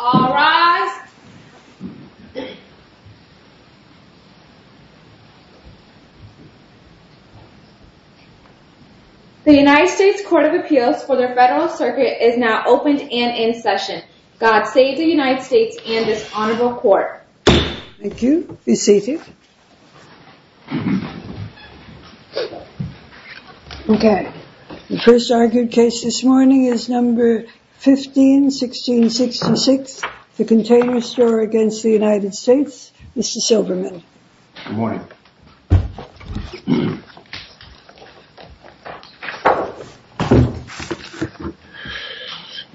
All rise. The United States Court of Appeals for the Federal Circuit is now opened and in session. God save the United States and this Honorable Court. Thank you. Be seated. Okay. The first argued case this morning is number 15-16-66. The continuous juror against the United States, Mr. Silberman. Good morning.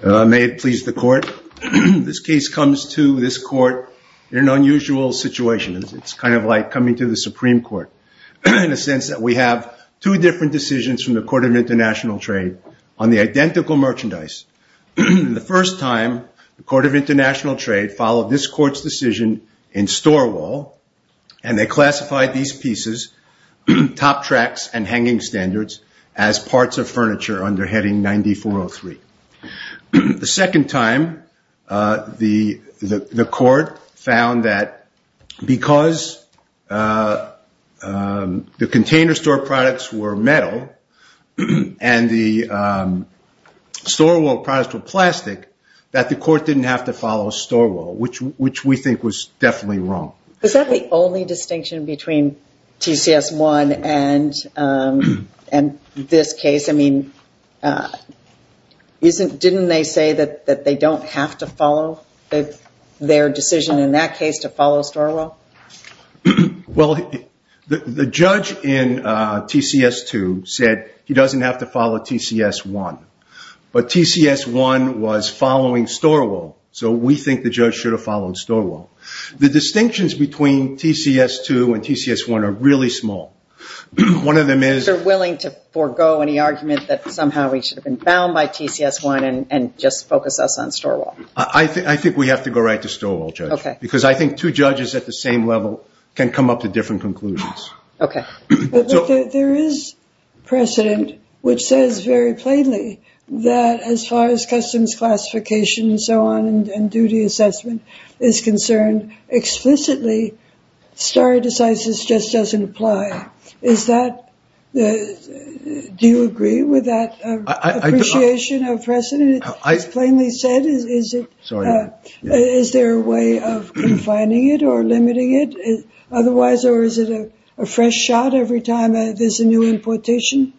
May it please the court. This case comes to this court in an unusual situation. It's kind of like coming to the Supreme Court in the sense that we have two different decisions from the Court of International Trade on the identical merchandise. The first time, the Court of International Trade followed this court's decision in store wall and they classified these pieces, top tracks and hanging standards, as parts of furniture under heading 9403. The second time, the court found that because the container store products were metal and the store wall products were plastic, that the court didn't have to follow store wall, which we think was definitely wrong. Is that the only distinction between TCS1 and this case? Didn't they say that they don't have to follow their decision in that case to follow store wall? Well, the judge in TCS2 said he doesn't have to follow TCS1, but TCS1 was following store wall, so we think the judge should have followed store wall. The distinctions between TCS2 and TCS1 are really small. One of them is- They're willing to forego any argument that somehow we should have been bound by TCS1 and just focus us on store wall. I think we have to go right to store wall, Judge. I think two judges at the same level can come up with different conclusions. There is precedent, which says very plainly that as far as customs classification and duty assessment is concerned, explicitly stare decisis just doesn't apply. Do you agree with that appreciation of precedent? As plainly said, is there a way of confining it or limiting it otherwise, or is it a fresh shot every time there's a new importation?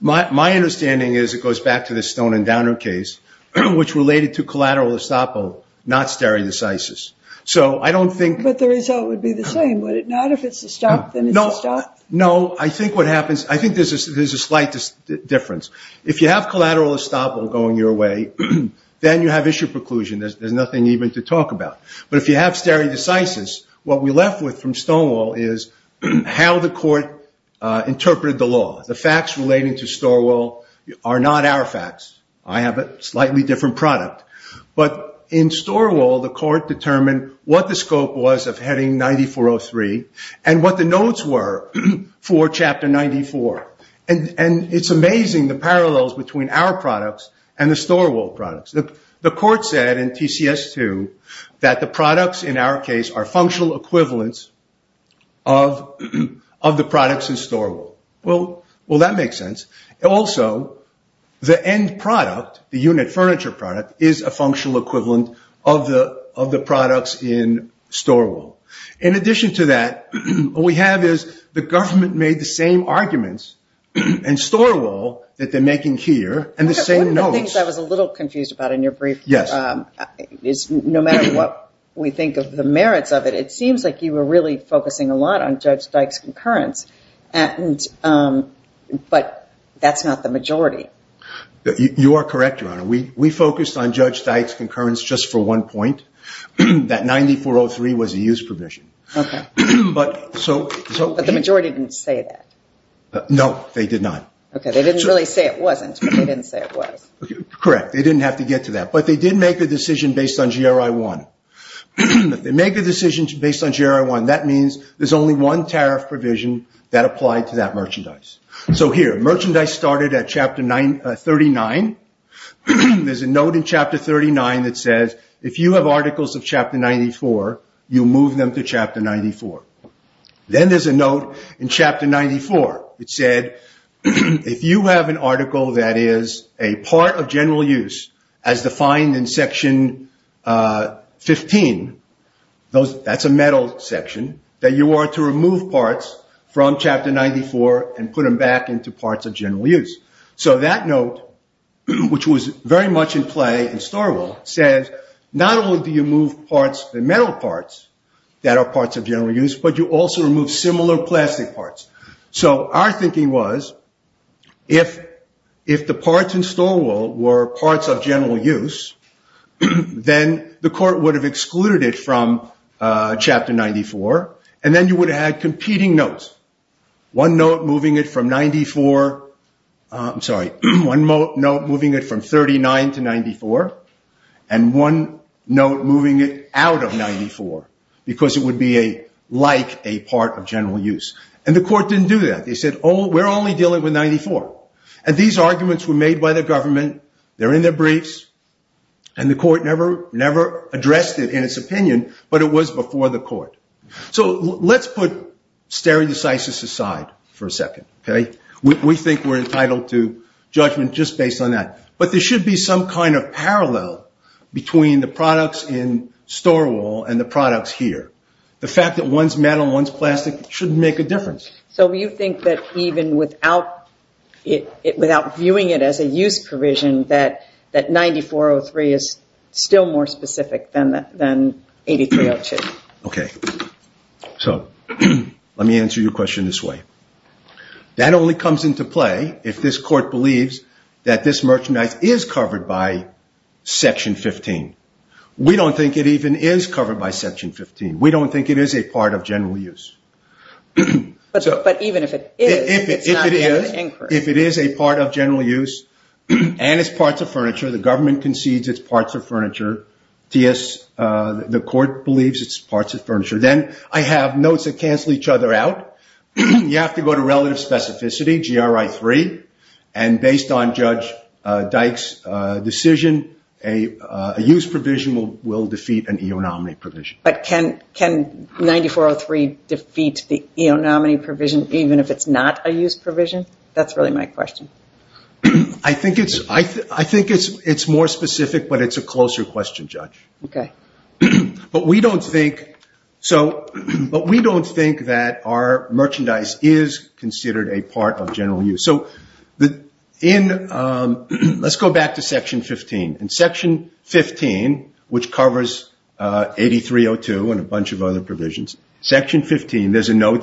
My understanding is it goes back to the Stone and Downer case, which related to collateral estoppel, not stare decisis. So I don't think- But the result would be the same, would it not? If it's a stop, then it's a stop? No. I think what happens- I think there's a slight difference. If you have collateral estoppel going your way, then you have issue preclusion. There's nothing even to talk about. But if you have stare decisis, what we left with from Stonewall is how the court interpreted the law. The facts relating to store wall are not our facts. I have a slightly different product. But in store wall, the court determined what the scope was of heading 9403 and what the notes were for chapter 94. And it's amazing the parallels between our products and the store wall products. The court said in TCS 2 that the products in our case are functional equivalents of the products in store wall. Well, that makes sense. Also, the end product, the unit furniture product, is a functional equivalent of the products in store wall. In addition to that, what we have is the government made the same arguments in store wall that they're making here and the same notes. One of the things I was a little confused about in your brief is no matter what we think of the merits of it, it seems like you were really focusing a lot on Judge Dyke's concurrence. But that's not the majority. You are correct, Your Honor. We focused on Judge Dyke's concurrence just for one point. That 9403 was a use provision. But the majority didn't say that. No, they did not. They didn't really say it wasn't, but they didn't say it was. Correct. They didn't have to get to that. But they did make a decision based on GRI 1. If they make a decision based on GRI 1, that means there's only one tariff provision that applied to that merchandise. So here, merchandise started at chapter 39. There's a note in chapter 39 that says, if you have articles of chapter 94, you move them to chapter 94. Then there's a note in chapter 94 that said, if you have an article that is a part of general use as defined in section 15, that's a metal section, that you are to remove parts from chapter 94 and put them back into parts of general use. So that note, which was very much in play in Storwell, says, not only do you move parts, the metal parts that are parts of general use, but you also remove similar plastic parts. So our thinking was, if the parts in Storwell were parts of general use, then the court would have excluded it from chapter 94. And then you would have had competing notes. One note moving it from 39 to 94, and one note moving it out of 94, because it would be like a part of general use. And the court didn't do that. They said, oh, we're only dealing with 94. And these arguments were made by the government. They're in their briefs. And the court never addressed it in its opinion, but it was before the court. So let's put stereodecisis aside for a second. We think we're entitled to judgment just based on that. But there should be some kind of parallel between the products in Storwell and the products here. The fact that one's metal and one's plastic shouldn't make a difference. So you think that even without viewing it as a use provision, that 9403 is still more specific than 8302? OK. So let me answer your question this way. That only comes into play if this court believes that this merchandise is covered by section 15. We don't think it even is covered by section 15. We don't think it is a part of general use. But even if it is, it's not an increase. If it is a part of general use and it's parts of furniture, the government concedes it's parts of furniture. The court believes it's parts of furniture. Then I have notes that cancel each other out. You have to go to relative specificity, GRI 3. And based on Judge Dyke's decision, a use provision will defeat an eonominy provision. But can 9403 defeat the eonominy provision even if it's not a use provision? That's really my question. I think it's more specific, but it's a closer question, Judge. But we don't think that our merchandise is considered a part of general use. Let's go back to section 15. In section 15, which covers 8302 and a bunch of other provisions, section 15, there's a lot of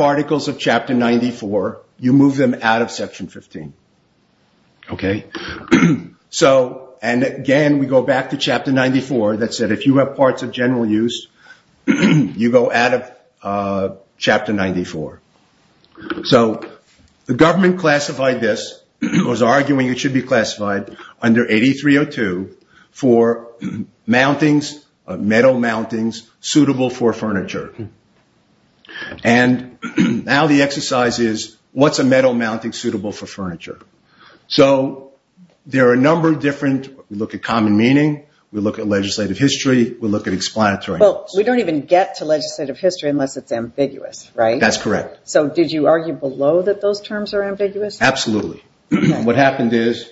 articles of chapter 94. You move them out of section 15. And again, we go back to chapter 94 that said if you have parts of general use, you go out of chapter 94. The government classified this, was arguing it should be classified under 8302 for metal mountings suitable for furniture. And now the exercise is, what's a metal mounting suitable for furniture? So there are a number of different, we look at common meaning, we look at legislative history, we look at explanatory. Well, we don't even get to legislative history unless it's ambiguous, right? That's correct. So did you argue below that those terms are ambiguous? Absolutely. What happened is,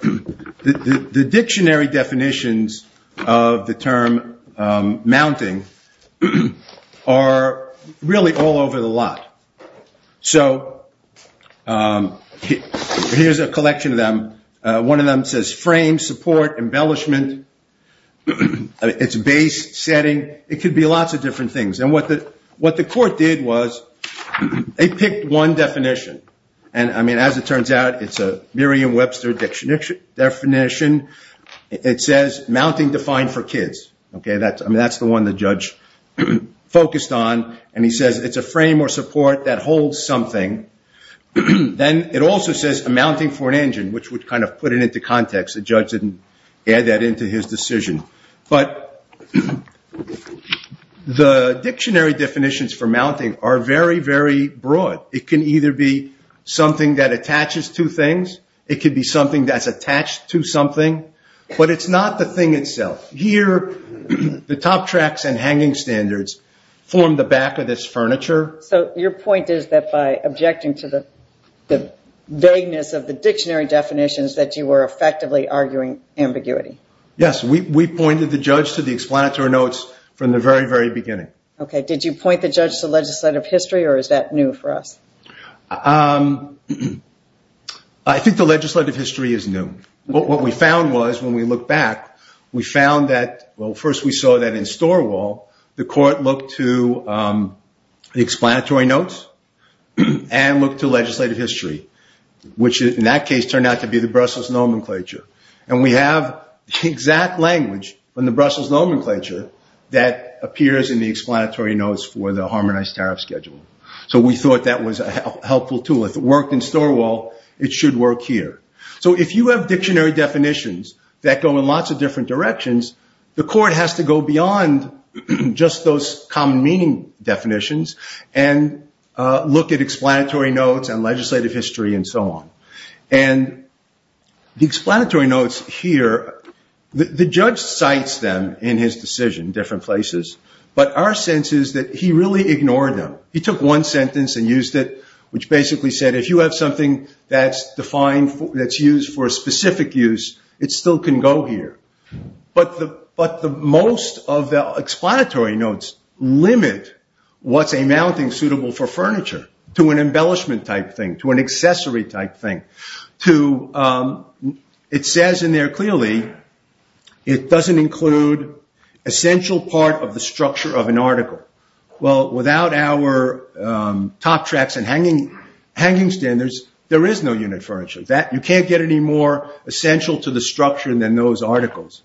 the dictionary definitions of the term mounting are really all over the lot. So here's a collection of them. One of them says frame, support, embellishment, it's base, setting. It could be lots of different things. And what the court did was, they picked one definition. And as it turns out, it's a Merriam-Webster definition. It says mounting defined for kids. That's the one the judge focused on. And he says it's a frame or support that holds something. Then it also says a mounting for an engine, which would kind of put it into context. The judge didn't add that into his decision. But the dictionary definitions for mounting are very, very broad. It can either be something that attaches to things. It could be something that's attached to something. But it's not the thing itself. Here, the top tracks and hanging standards form the back of this furniture. So your point is that by objecting to the vagueness of the dictionary definitions, that you were effectively arguing ambiguity. Yes, we pointed the judge to the explanatory notes from the very, very beginning. OK, did you point the judge to legislative history, or is that new for us? I think the legislative history is new. What we found was, when we look back, we found that, well, first we saw that in Storwall, the court looked to the explanatory notes and looked to legislative history, which in that case turned out to be the Brussels nomenclature. And we have the exact language from the Brussels nomenclature that appears in the explanatory notes for the harmonized tariff schedule. So we thought that was a helpful tool. If it worked in Storwall, it should work here. So if you have dictionary definitions that go in lots of different directions, the court has to go beyond just those common meaning definitions and look at explanatory notes and legislative history and so on. And the explanatory notes here, the judge cites them in his decision in different places. But our sense is that he really ignored them. He took one sentence and used it, which basically said, if you have something that's used for a specific use, it still can go here. But most of the explanatory notes limit what's a mounting suitable for furniture, to an embellishment type thing, to an accessory type thing. It says in there clearly, it doesn't include essential part of the structure of an article. Well, without our top tracks and hanging standards, there is no unit furniture. You can't get any more essential to the structure than those articles.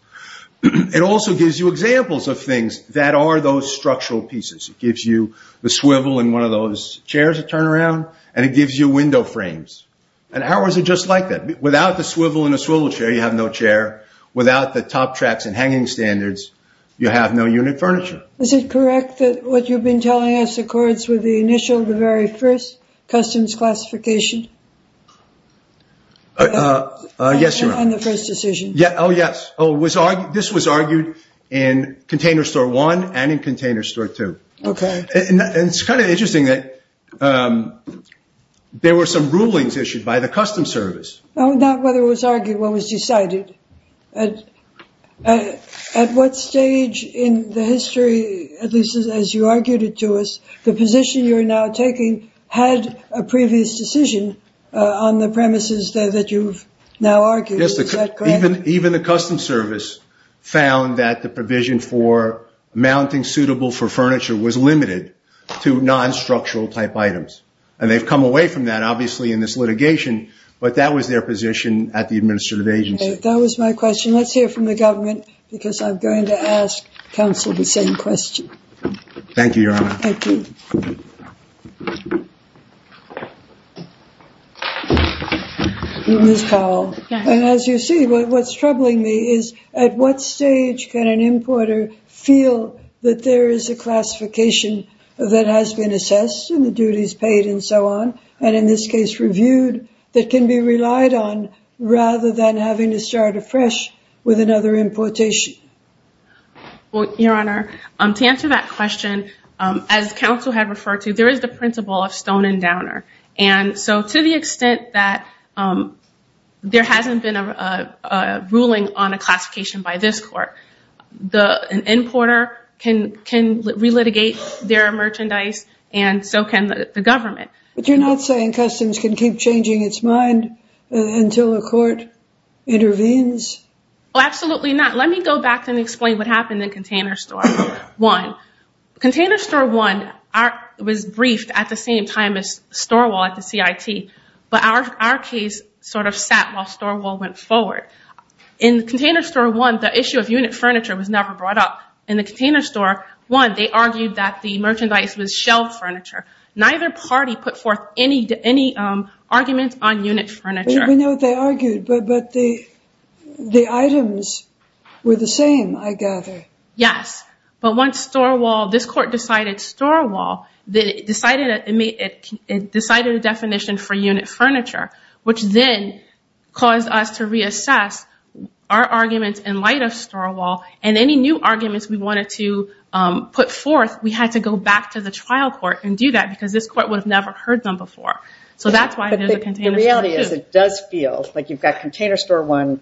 It also gives you examples of things that are those structural pieces. It gives you the swivel in one of those chairs to turn around. And it gives you window frames. And ours are just like that. Without the swivel in a swivel chair, you have no chair. Without the top tracks and hanging standards, you have no unit furniture. Is it correct that what you've been telling us accords with the initial, the very first, customs classification? Yes, Your Honor. On the first decision. Yeah. Oh, yes. This was argued in Container Store 1 and in Container Store 2. OK. And it's kind of interesting that there were some rulings issued by the Customs Service. Oh, not whether it was argued, what was decided. At what stage in the history, at least as you argued it to us, the position you're now taking had a previous decision on the premises that you've now argued? Yes. Even the Customs Service found that the provision for mounting suitable for furniture was limited to non-structural type items. And they've come away from that, obviously, in this litigation. But that was their position at the administrative agency. That was my question. Let's hear from the government, because I'm going to ask counsel the same question. Thank you, Your Honor. Thank you. Ms. Powell. Yes. And as you see, what's troubling me is at what stage can an importer feel that there is a classification that has been assessed and the duties paid and so on, and in this case, reviewed, that can be relied on rather than having to start afresh with another importation? Well, Your Honor, to answer that question, as counsel had referred to, there is the principle of stone and downer. And so to the extent that there hasn't been a ruling on a classification by this court, an importer can relitigate their merchandise, and so can the government. But you're not saying Customs can keep changing its mind until a court intervenes? Well, absolutely not. Let me go back and explain what happened in Container Store 1. Container Store 1 was briefed at the same time as Storewall at the CIT. But our case sort of sat while Storewall went forward. In Container Store 1, the issue of unit furniture was never brought up. In the Container Store 1, they argued that the merchandise was shelved furniture. Neither party put forth any arguments on unit furniture. We know what they argued, but the items were the same, I gather. Yes. But once Storewall, this court decided Storewall, it decided a definition for unit furniture, which then caused us to reassess our arguments in light of Storewall. And any new arguments we wanted to put forth, we had to go back to the trial court and do that, because this court would have never heard them before. So that's why there's a Container Store 2. But the reality is it does feel like you've got Container Store 1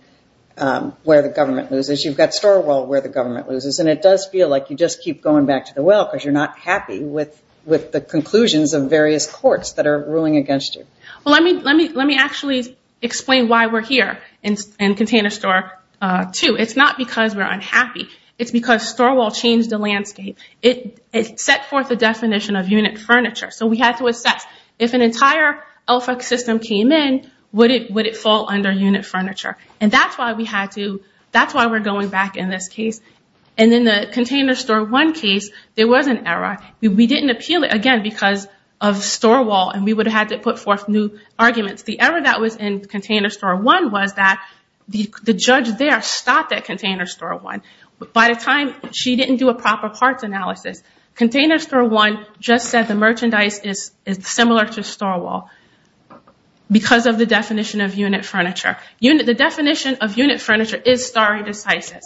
where the government loses. You've got Storewall where the government loses. And it does feel like you just keep going back to the well because you're not happy with the conclusions of various courts that are ruling against you. Well, let me actually explain why we're here in Container Store 2. It's not because we're unhappy. It's because Storewall changed the landscape. It set forth the definition of unit furniture. So we had to assess, if an entire LFOC system came in, would it fall under unit furniture? And that's why we're going back in this case. And in the Container Store 1 case, there was an error. We didn't appeal it, again, because of Storewall. And we would have had to put forth new arguments. The error that was in Container Store 1 was that the judge there stopped at Container Store 1. By the time she didn't do a proper parts analysis, Container Store 1 just said the merchandise is similar to Storewall because of the definition of unit furniture. The definition of unit furniture is stare decisis.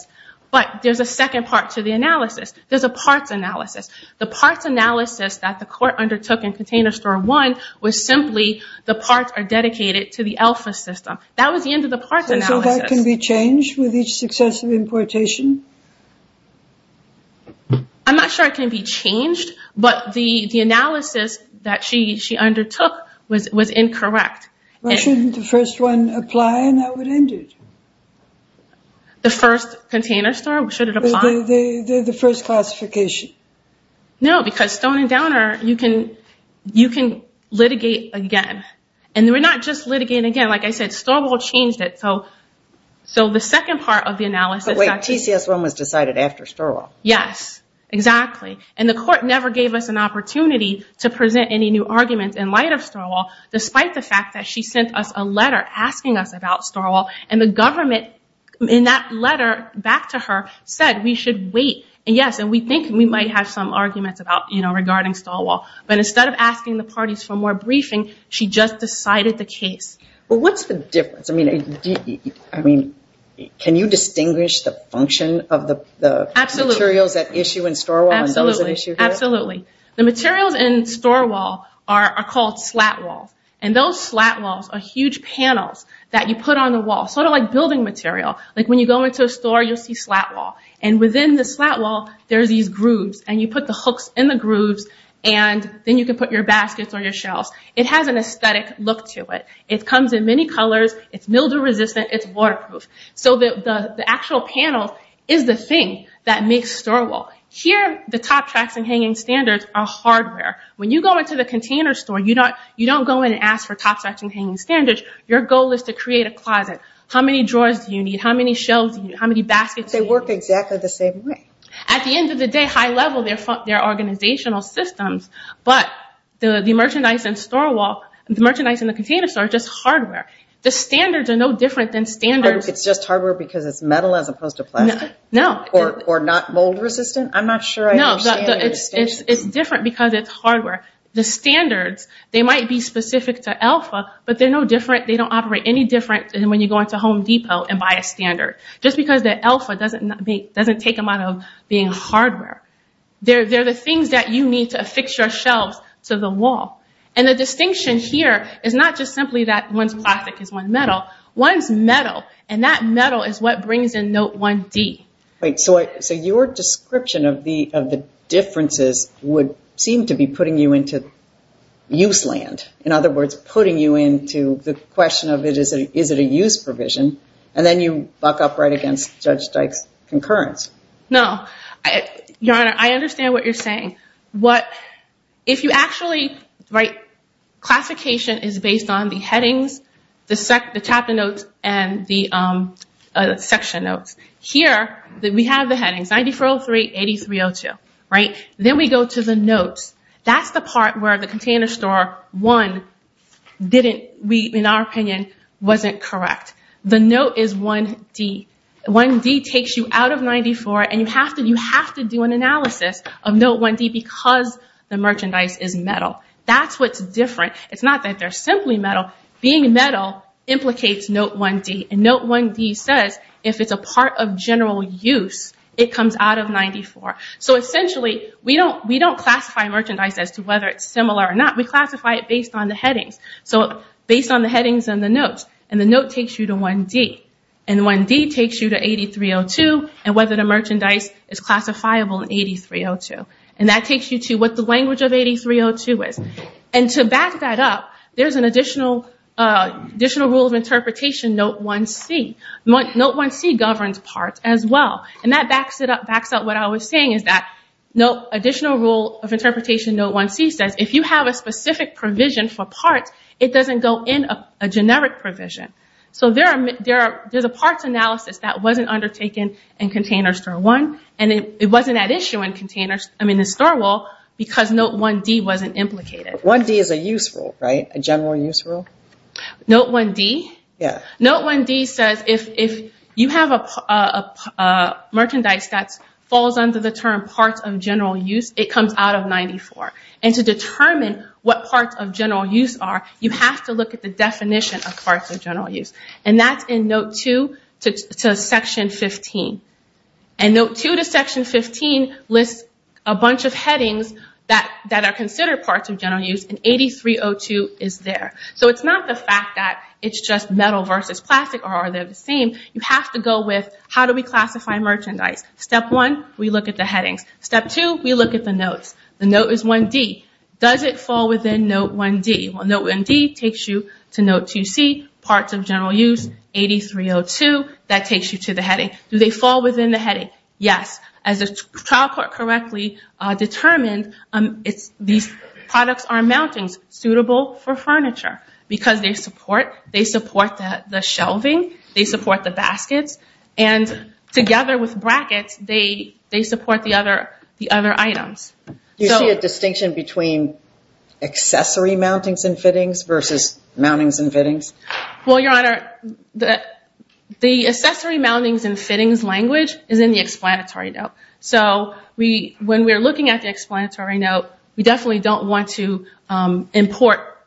But there's a second part to the analysis. There's a parts analysis. The parts analysis that the court undertook in Container Store 1 was simply the parts are dedicated to the LFOC system. That was the end of the parts analysis. So that can be changed with each successive importation? I'm not sure it can be changed. But the analysis that she undertook was incorrect. Why shouldn't the first one apply, and that would end it? The first Container Store? Should it apply? The first classification. No, because Stone and Downer, you can litigate again. And we're not just litigating again. Like I said, Storewall changed it. So the second part of the analysis actually. But wait, TCS 1 was decided after Storewall. Yes, exactly. And the court never gave us an opportunity to present any new arguments in light of Storewall, despite the fact that she sent us a letter asking us about Storewall. And the government, in that letter back to her, said we should wait. And yes, and we think we might have some arguments about, you know, regarding Storewall. But instead of asking the parties for more briefing, she just decided the case. Well, what's the difference? I mean, can you distinguish the function of the materials that issue in Storewall and those that issue here? Absolutely. The materials in Storewall are called slat walls. And those slat walls are huge panels that you put on the wall. Sort of like building material. Like when you go into a store, you'll see slat wall. And within the slat wall, there's these grooves. And you put the hooks in the grooves, and then you can put your baskets or your shelves. It has an aesthetic look to it. It comes in many colors. It's mildew-resistant. It's waterproof. So the actual panel is the thing that makes Storewall. Here, the top tracks and hanging standards are hardware. When you go into the container store, you don't go in and ask for top tracks and hanging standards. Your goal is to create a closet. How many drawers do you need? How many baskets do you need? They work exactly the same way. At the end of the day, high level, they're organizational systems. But the merchandise in Storewall, the merchandise in the container store is just hardware. The standards are no different than standards. It's just hardware because it's metal as opposed to plastic? No. Or not mold-resistant? I'm not sure I understand the distinction. It's different because it's hardware. The standards, they might be specific to Alpha, but they're no different. They don't operate any different than when you go into Home Depot and buy a standard, just because the Alpha doesn't take them out of being hardware. They're the things that you need to affix your shelves to the wall. And the distinction here is not just simply that one's plastic is one metal. One's metal, and that metal is what brings in Note 1D. Right, so your description of the differences would seem to be putting you into use land. In other words, putting you into the question of, is it a use provision? And then you buck upright against Judge Dyke's concurrence. No, Your Honor, I understand what you're saying. If you actually, right, classification is based on the headings, the chapter notes, and the section notes. Here, we have the headings, 9403, 8302, right? Then we go to the notes. That's the part where the container store, one, didn't, in our opinion, wasn't correct. The note is 1D. 1D takes you out of 94, and you have to do an analysis of Note 1D because the merchandise is metal. That's what's different. It's not that they're simply metal. Being metal implicates Note 1D. And Note 1D says, if it's a part of general use, it comes out of 94. So essentially, we don't classify merchandise as to whether it's similar or not. We classify it based on the headings. So based on the headings and the notes. And the note takes you to 1D. And 1D takes you to 8302, and whether the merchandise is classifiable in 8302. And that takes you to what the language of 8302 is. And to back that up, there's an additional rule of interpretation, Note 1C. Note 1C governs parts as well. And that backs up what I was saying, is that additional rule of interpretation, Note 1C, says if you have a specific provision for parts, it doesn't go in a generic provision. So there's a parts analysis that wasn't undertaken in Container Store 1. And it wasn't at issue in Store 1 because Note 1D wasn't implicated. 1D is a use rule, right? A general use rule? Note 1D? Yeah. Note 1D says if you have a merchandise that falls under the term parts of general use, it comes out of 94. And to determine what parts of general use are, you have to look at the definition of parts of general use. And that's in Note 2 to Section 15. And Note 2 to Section 15 lists a bunch of headings that are considered parts of general use, and 8302 is there. So it's not the fact that it's just metal versus plastic, or are they the same? You have to go with, how do we classify merchandise? Step one, we look at the headings. Step two, we look at the notes. The note is 1D. Does it fall within Note 1D? Well, Note 1D takes you to Note 2C, parts of general use, 8302, that takes you to the heading. Do they fall within the heading? Yes. As the trial court correctly determined, these products are mountings suitable for furniture because they support the shelving, they support the baskets, and together with brackets, they support the other items. You see a distinction between accessory mountings and fittings versus mountings and fittings? Well, Your Honor, the accessory mountings and fittings language is in the explanatory note. So when we're looking at the explanatory note, we definitely don't want to import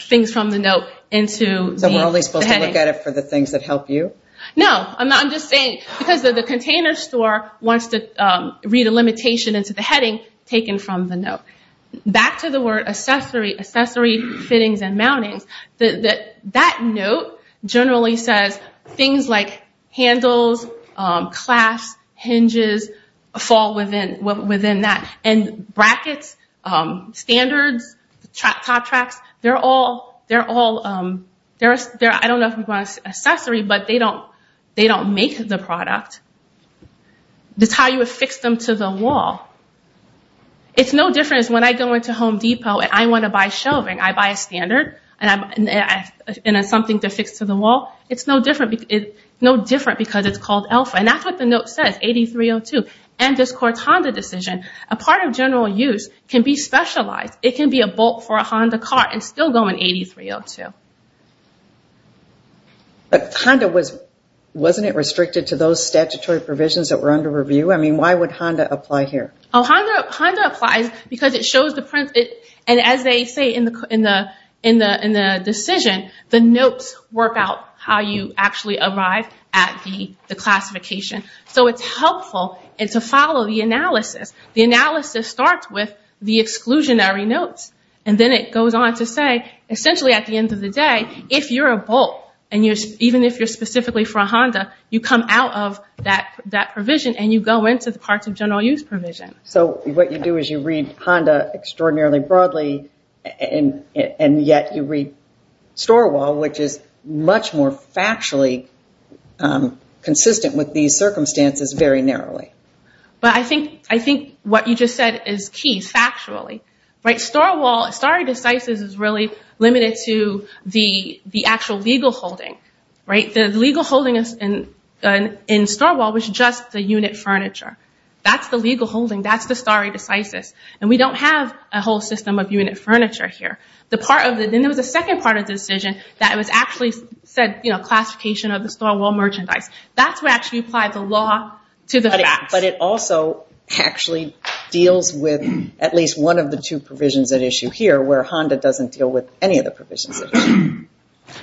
things from the note into the heading. So we're only supposed to look at it for the things that help you? No, I'm just saying, because the container store wants to read a limitation into the heading taken from the note. Back to the word accessory, accessory fittings and mountings, that note generally says things like handles, clasps, hinges fall within that, and brackets, standards, top tracks, they're all, I don't know if we want to say accessory, but they don't make the product. That's how you affix them to the wall. It's no different as when I go into Home Depot and I want to buy shelving, I buy a standard and something to affix to the wall. It's no different because it's called Alpha, and that's what the note says, 8302, and this courts Honda decision. A part of general use can be specialized. It can be a bolt for a Honda car and still go in 8302. But Honda, wasn't it restricted to those statutory provisions that were under review? I mean, why would Honda apply here? Oh, Honda applies because it shows the print, and as they say in the decision, the notes work out how you actually arrive at the classification. So it's helpful to follow the analysis. The analysis starts with the exclusionary notes, and then it goes on to say, essentially at the end of the day, if you're a bolt, and even if you're specifically for a Honda, you come out of that provision and you go into the parts of general use provision. So what you do is you read Honda extraordinarily broadly, and yet you read StoreWall, which is much more factually consistent with these circumstances very narrowly. But I think what you just said is key, factually. StoreWall, stare decisis is really limited to the actual legal holding. The legal holding in StoreWall was just the unit furniture. That's the legal holding. That's the stare decisis. And we don't have a whole system of unit furniture here. The part of the, then there was a second part of the decision that it was actually said, classification of the StoreWall merchandise. That's where actually applied the law to the facts. But it also actually deals with at least one of the two provisions at issue here where Honda doesn't deal with any of the provisions.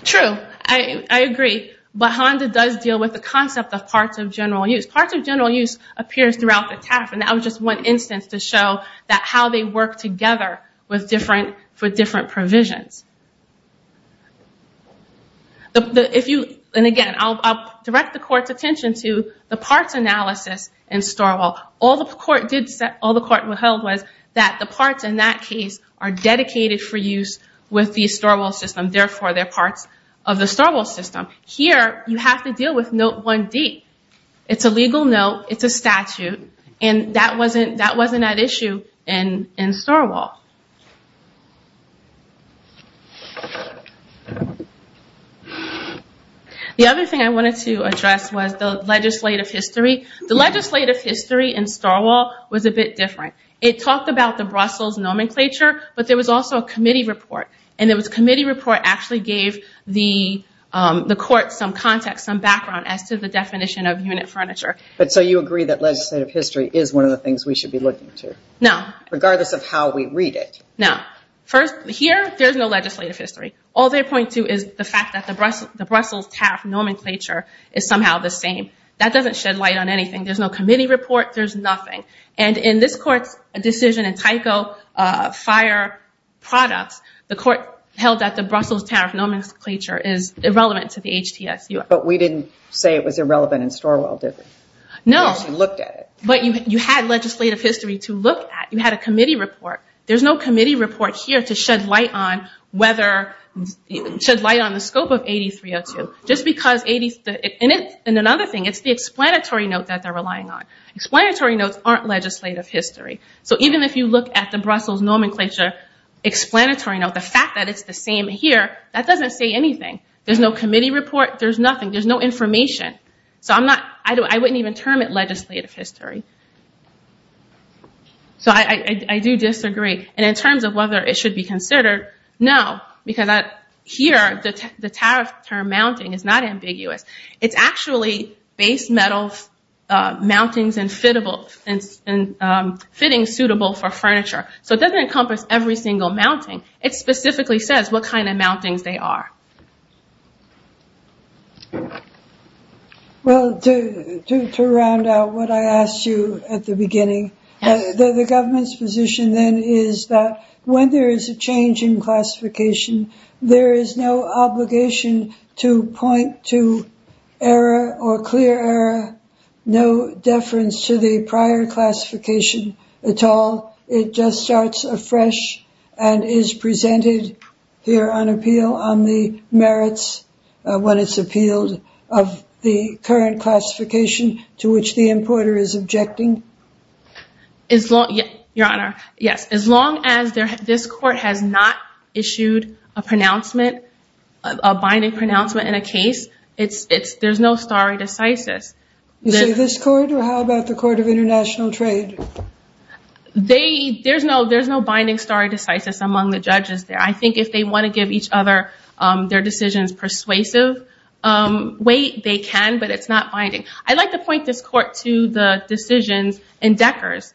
True, I agree. But Honda does deal with the concept of parts of general use. Parts of general use appears throughout the TAF. And that was just one instance to show that how they work together for different provisions. And again, I'll direct the court's attention to the parts analysis in StoreWall. All the court held was that the parts in that case are dedicated for use with the StoreWall system. Therefore, they're parts of the StoreWall system. Here, you have to deal with Note 1D. It's a legal note. It's a statute. And that wasn't at issue in StoreWall. The other thing I wanted to address was the legislative history. The legislative history in StoreWall was a bit different. It talked about the Brussels nomenclature. But there was also a committee report. And the committee report actually gave the court some context, some background as to the definition of unit furniture. So you agree that legislative history is one of the things we should be looking to? No. Regardless of how we read it? No. Here, there's no legislative history. All they point to is the fact that the Brussels TAF nomenclature is somehow the same. That doesn't shed light on anything. There's no committee report. There's nothing. And in this court's decision in Tyco Fire Products, the court held that the Brussels TAF nomenclature is irrelevant to the HTSU. But we didn't say it was irrelevant in StoreWall, did we? No. We actually looked at it. But you had legislative history to look at. You had a committee report. There's no committee report here to shed light on the scope of 8302. And another thing, it's the explanatory note that they're relying on. Explanatory notes aren't legislative history. So even if you look at the Brussels nomenclature explanatory note, the fact that it's the same here, that doesn't say anything. There's no committee report. There's nothing. There's no information. So I wouldn't even term it legislative history. So I do disagree. And in terms of whether it should be considered, no. Because here, the tariff term mounting is not ambiguous. It's actually base metal mountings and fittings suitable for furniture. So it doesn't encompass every single mounting. It specifically says what kind of mountings they are. Well, to round out what I asked you at the beginning, the government's position then is that when there is a change in classification, there is no obligation to point to error or clear error, no deference to the prior classification at all. It just starts afresh and is presented here on appeal on the merits when it's appealed of the current classification to which the importer is objecting. Your Honor, yes. As long as this court has not issued a binding pronouncement in a case, there's no stare decisis. You say this court, or how about the Court of International Trade? There's no binding stare decisis among the judges there. I think if they want to give each other their decisions persuasive way, they can. But it's not binding. I'd like to point this court to the decisions in Decker's.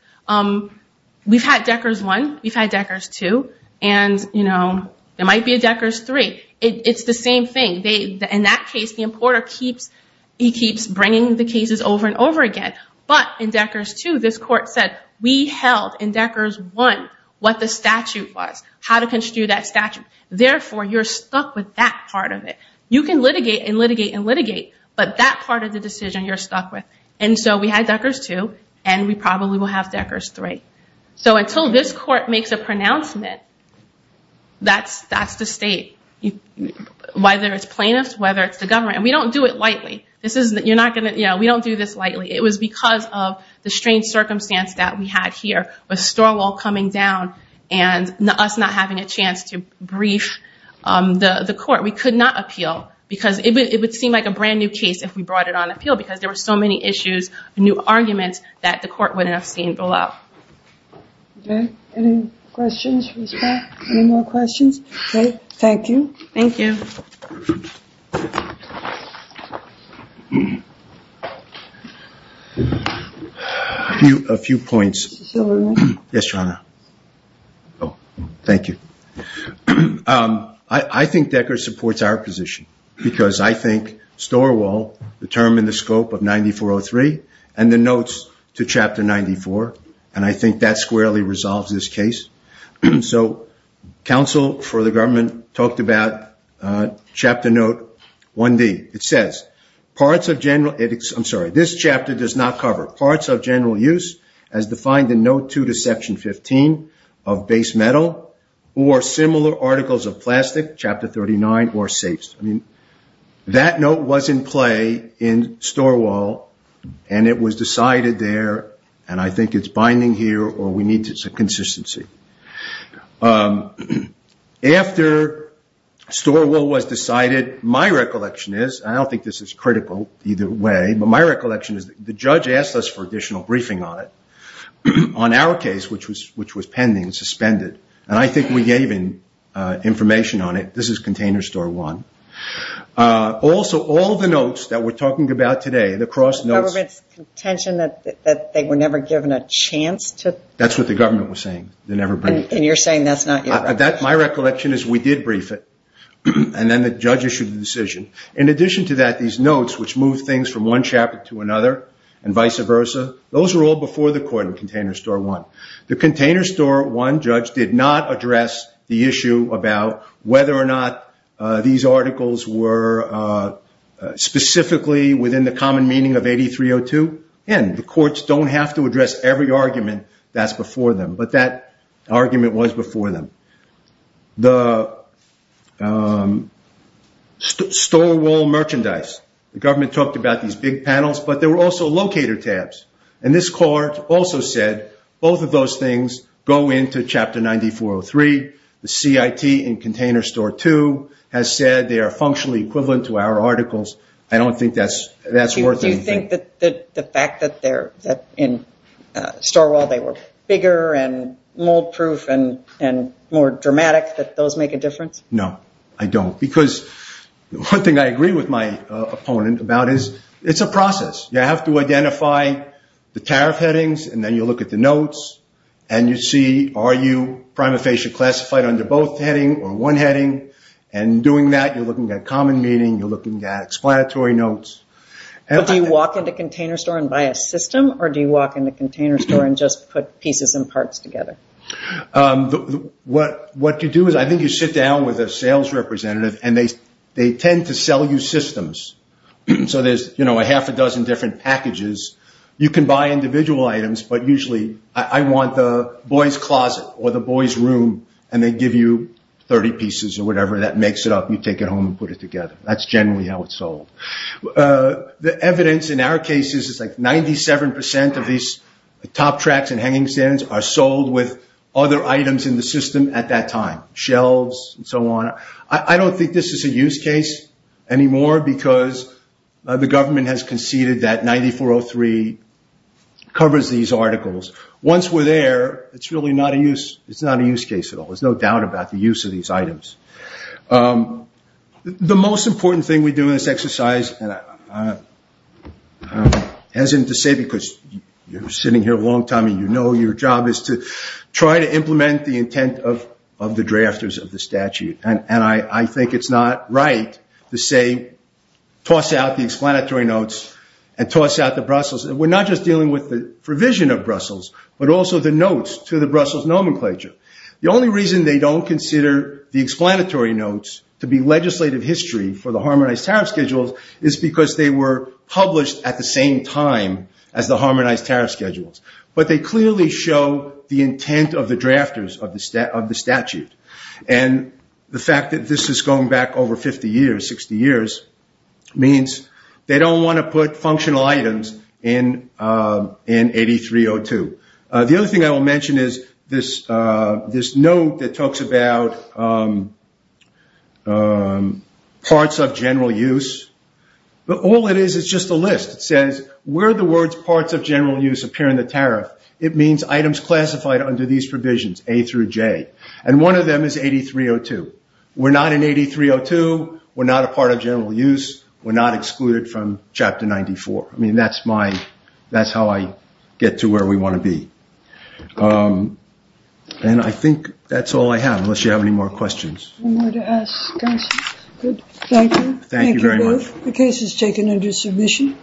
We've had Decker's I. We've had Decker's II. And there might be a Decker's III. It's the same thing. In that case, the importer keeps bringing the cases over and over again. But in Decker's II, this court said, we held in Decker's I what the statute was, how to construe that statute. Therefore, you're stuck with that part of it. You can litigate and litigate and litigate, but that part of the decision you're stuck with. And so we had Decker's II, and we probably will have Decker's III. So until this court makes a pronouncement, that's the state, whether it's plaintiffs, whether it's the government. And we don't do it lightly. We don't do this lightly. It was because of the strange circumstance that we had here with Storwell coming down and us not having a chance to brief the court. We could not appeal. Because it would seem like a brand new case if we brought it on appeal, because there were so many issues, new arguments, that the court wouldn't have seen below. OK. Any questions from the staff? Any more questions? Thank you. Thank you. A few points. Mr. Silverman? Yes, Your Honor. Oh, thank you. I think Decker supports our position, because I think Storwell determined the scope of 9403, and the notes to Chapter 94. And I think that squarely resolves this case. So counsel for the government talked about Chapter Note 1D. It says, this chapter does not cover parts of general use as defined in Note 2 to Section 15 of base metal, or similar articles of plastic, Chapter 39, or safes. I mean, that note was in play in Storwell, and it was decided there. And I think it's binding here, or we need some consistency. After Storwell was decided, my recollection is, and I don't think this is critical either way, but my recollection is, the judge asked us for additional briefing on it, on our case, which was pending, suspended. And I think we gave him information on it. This is Container Store 1. Also, all the notes that we're talking about today, the cross notes. The government's contention that they were never given a chance to? That's what the government was saying. They never briefed. And you're saying that's not your recollection? My recollection is, we did brief it, and then the judge issued the decision. In addition to that, these notes, which move things from one chapter to another, and vice versa, those were all before the court in Container Store 1. The Container Store 1 judge did not address the issue about whether or not these articles were specifically within the common meaning of 8302. And the courts don't have to address every argument that's before them. But that argument was before them. The Storwell merchandise. The government talked about these big panels, but there were also locator tabs. And this court also said, both of those things go into Chapter 9403. The CIT in Container Store 2 has said they are functionally equivalent to our articles. I don't think that's worth anything. Do you think that the fact that in Storwell they were bigger, and mold proof, and more dramatic, that those make a difference? No, I don't. Because one thing I agree with my opponent about is, it's a process. You have to identify the tariff headings, and then you look at the notes. And you see, are you prima facie classified under both heading, or one heading? And doing that, you're looking at common meaning, you're looking at explanatory notes. But do you walk into Container Store and buy a system? Or do you walk into Container Store and just put pieces and parts together? What you do is, I think you sit down with a sales representative, and they tend to sell you systems. So there's a half a dozen different packages. You can buy individual items, but usually, I want the boys' closet, or the boys' room, and they give you 30 pieces, or whatever. That makes it up. You take it home and put it together. That's generally how it's sold. The evidence in our case is, it's like 97% of these top tracks and hanging stands are sold with other items in the system at that time. Shelves, and so on. I don't think this is a use case anymore, because the government has conceded that 9403 covers these articles. Once we're there, it's really not a use case at all. There's no doubt about the use of these items. The most important thing we do in this exercise, as in to say, because you're sitting here a long time, and you know your job is to try to implement the intent of the drafters of the statute. And I think it's not right to say, toss out the explanatory notes, and toss out the Brussels. We're not just dealing with the provision of Brussels, but also the notes to the Brussels nomenclature. The only reason they don't consider the explanatory notes to be legislative history for the Harmonized Tariff Schedules is because they were published at the same time as the Harmonized Tariff Schedules. But they clearly show the intent of the drafters of the statute. And the fact that this is going back over 50 years, 60 years, means they don't want to put functional items in 8302. The other thing I will mention is this note that talks about parts of general use. But all it is, is just a list. It says, where the words parts of general use appear in the tariff, it means items classified under these provisions, A through J. And one of them is 8302. We're not in 8302. We're not a part of general use. We're not excluded from Chapter 94. I mean, that's how I get to where we want to be. And I think that's all I have, unless you have any more questions. One more to ask us. Good. Thank you. Thank you very much. The case is taken under submission.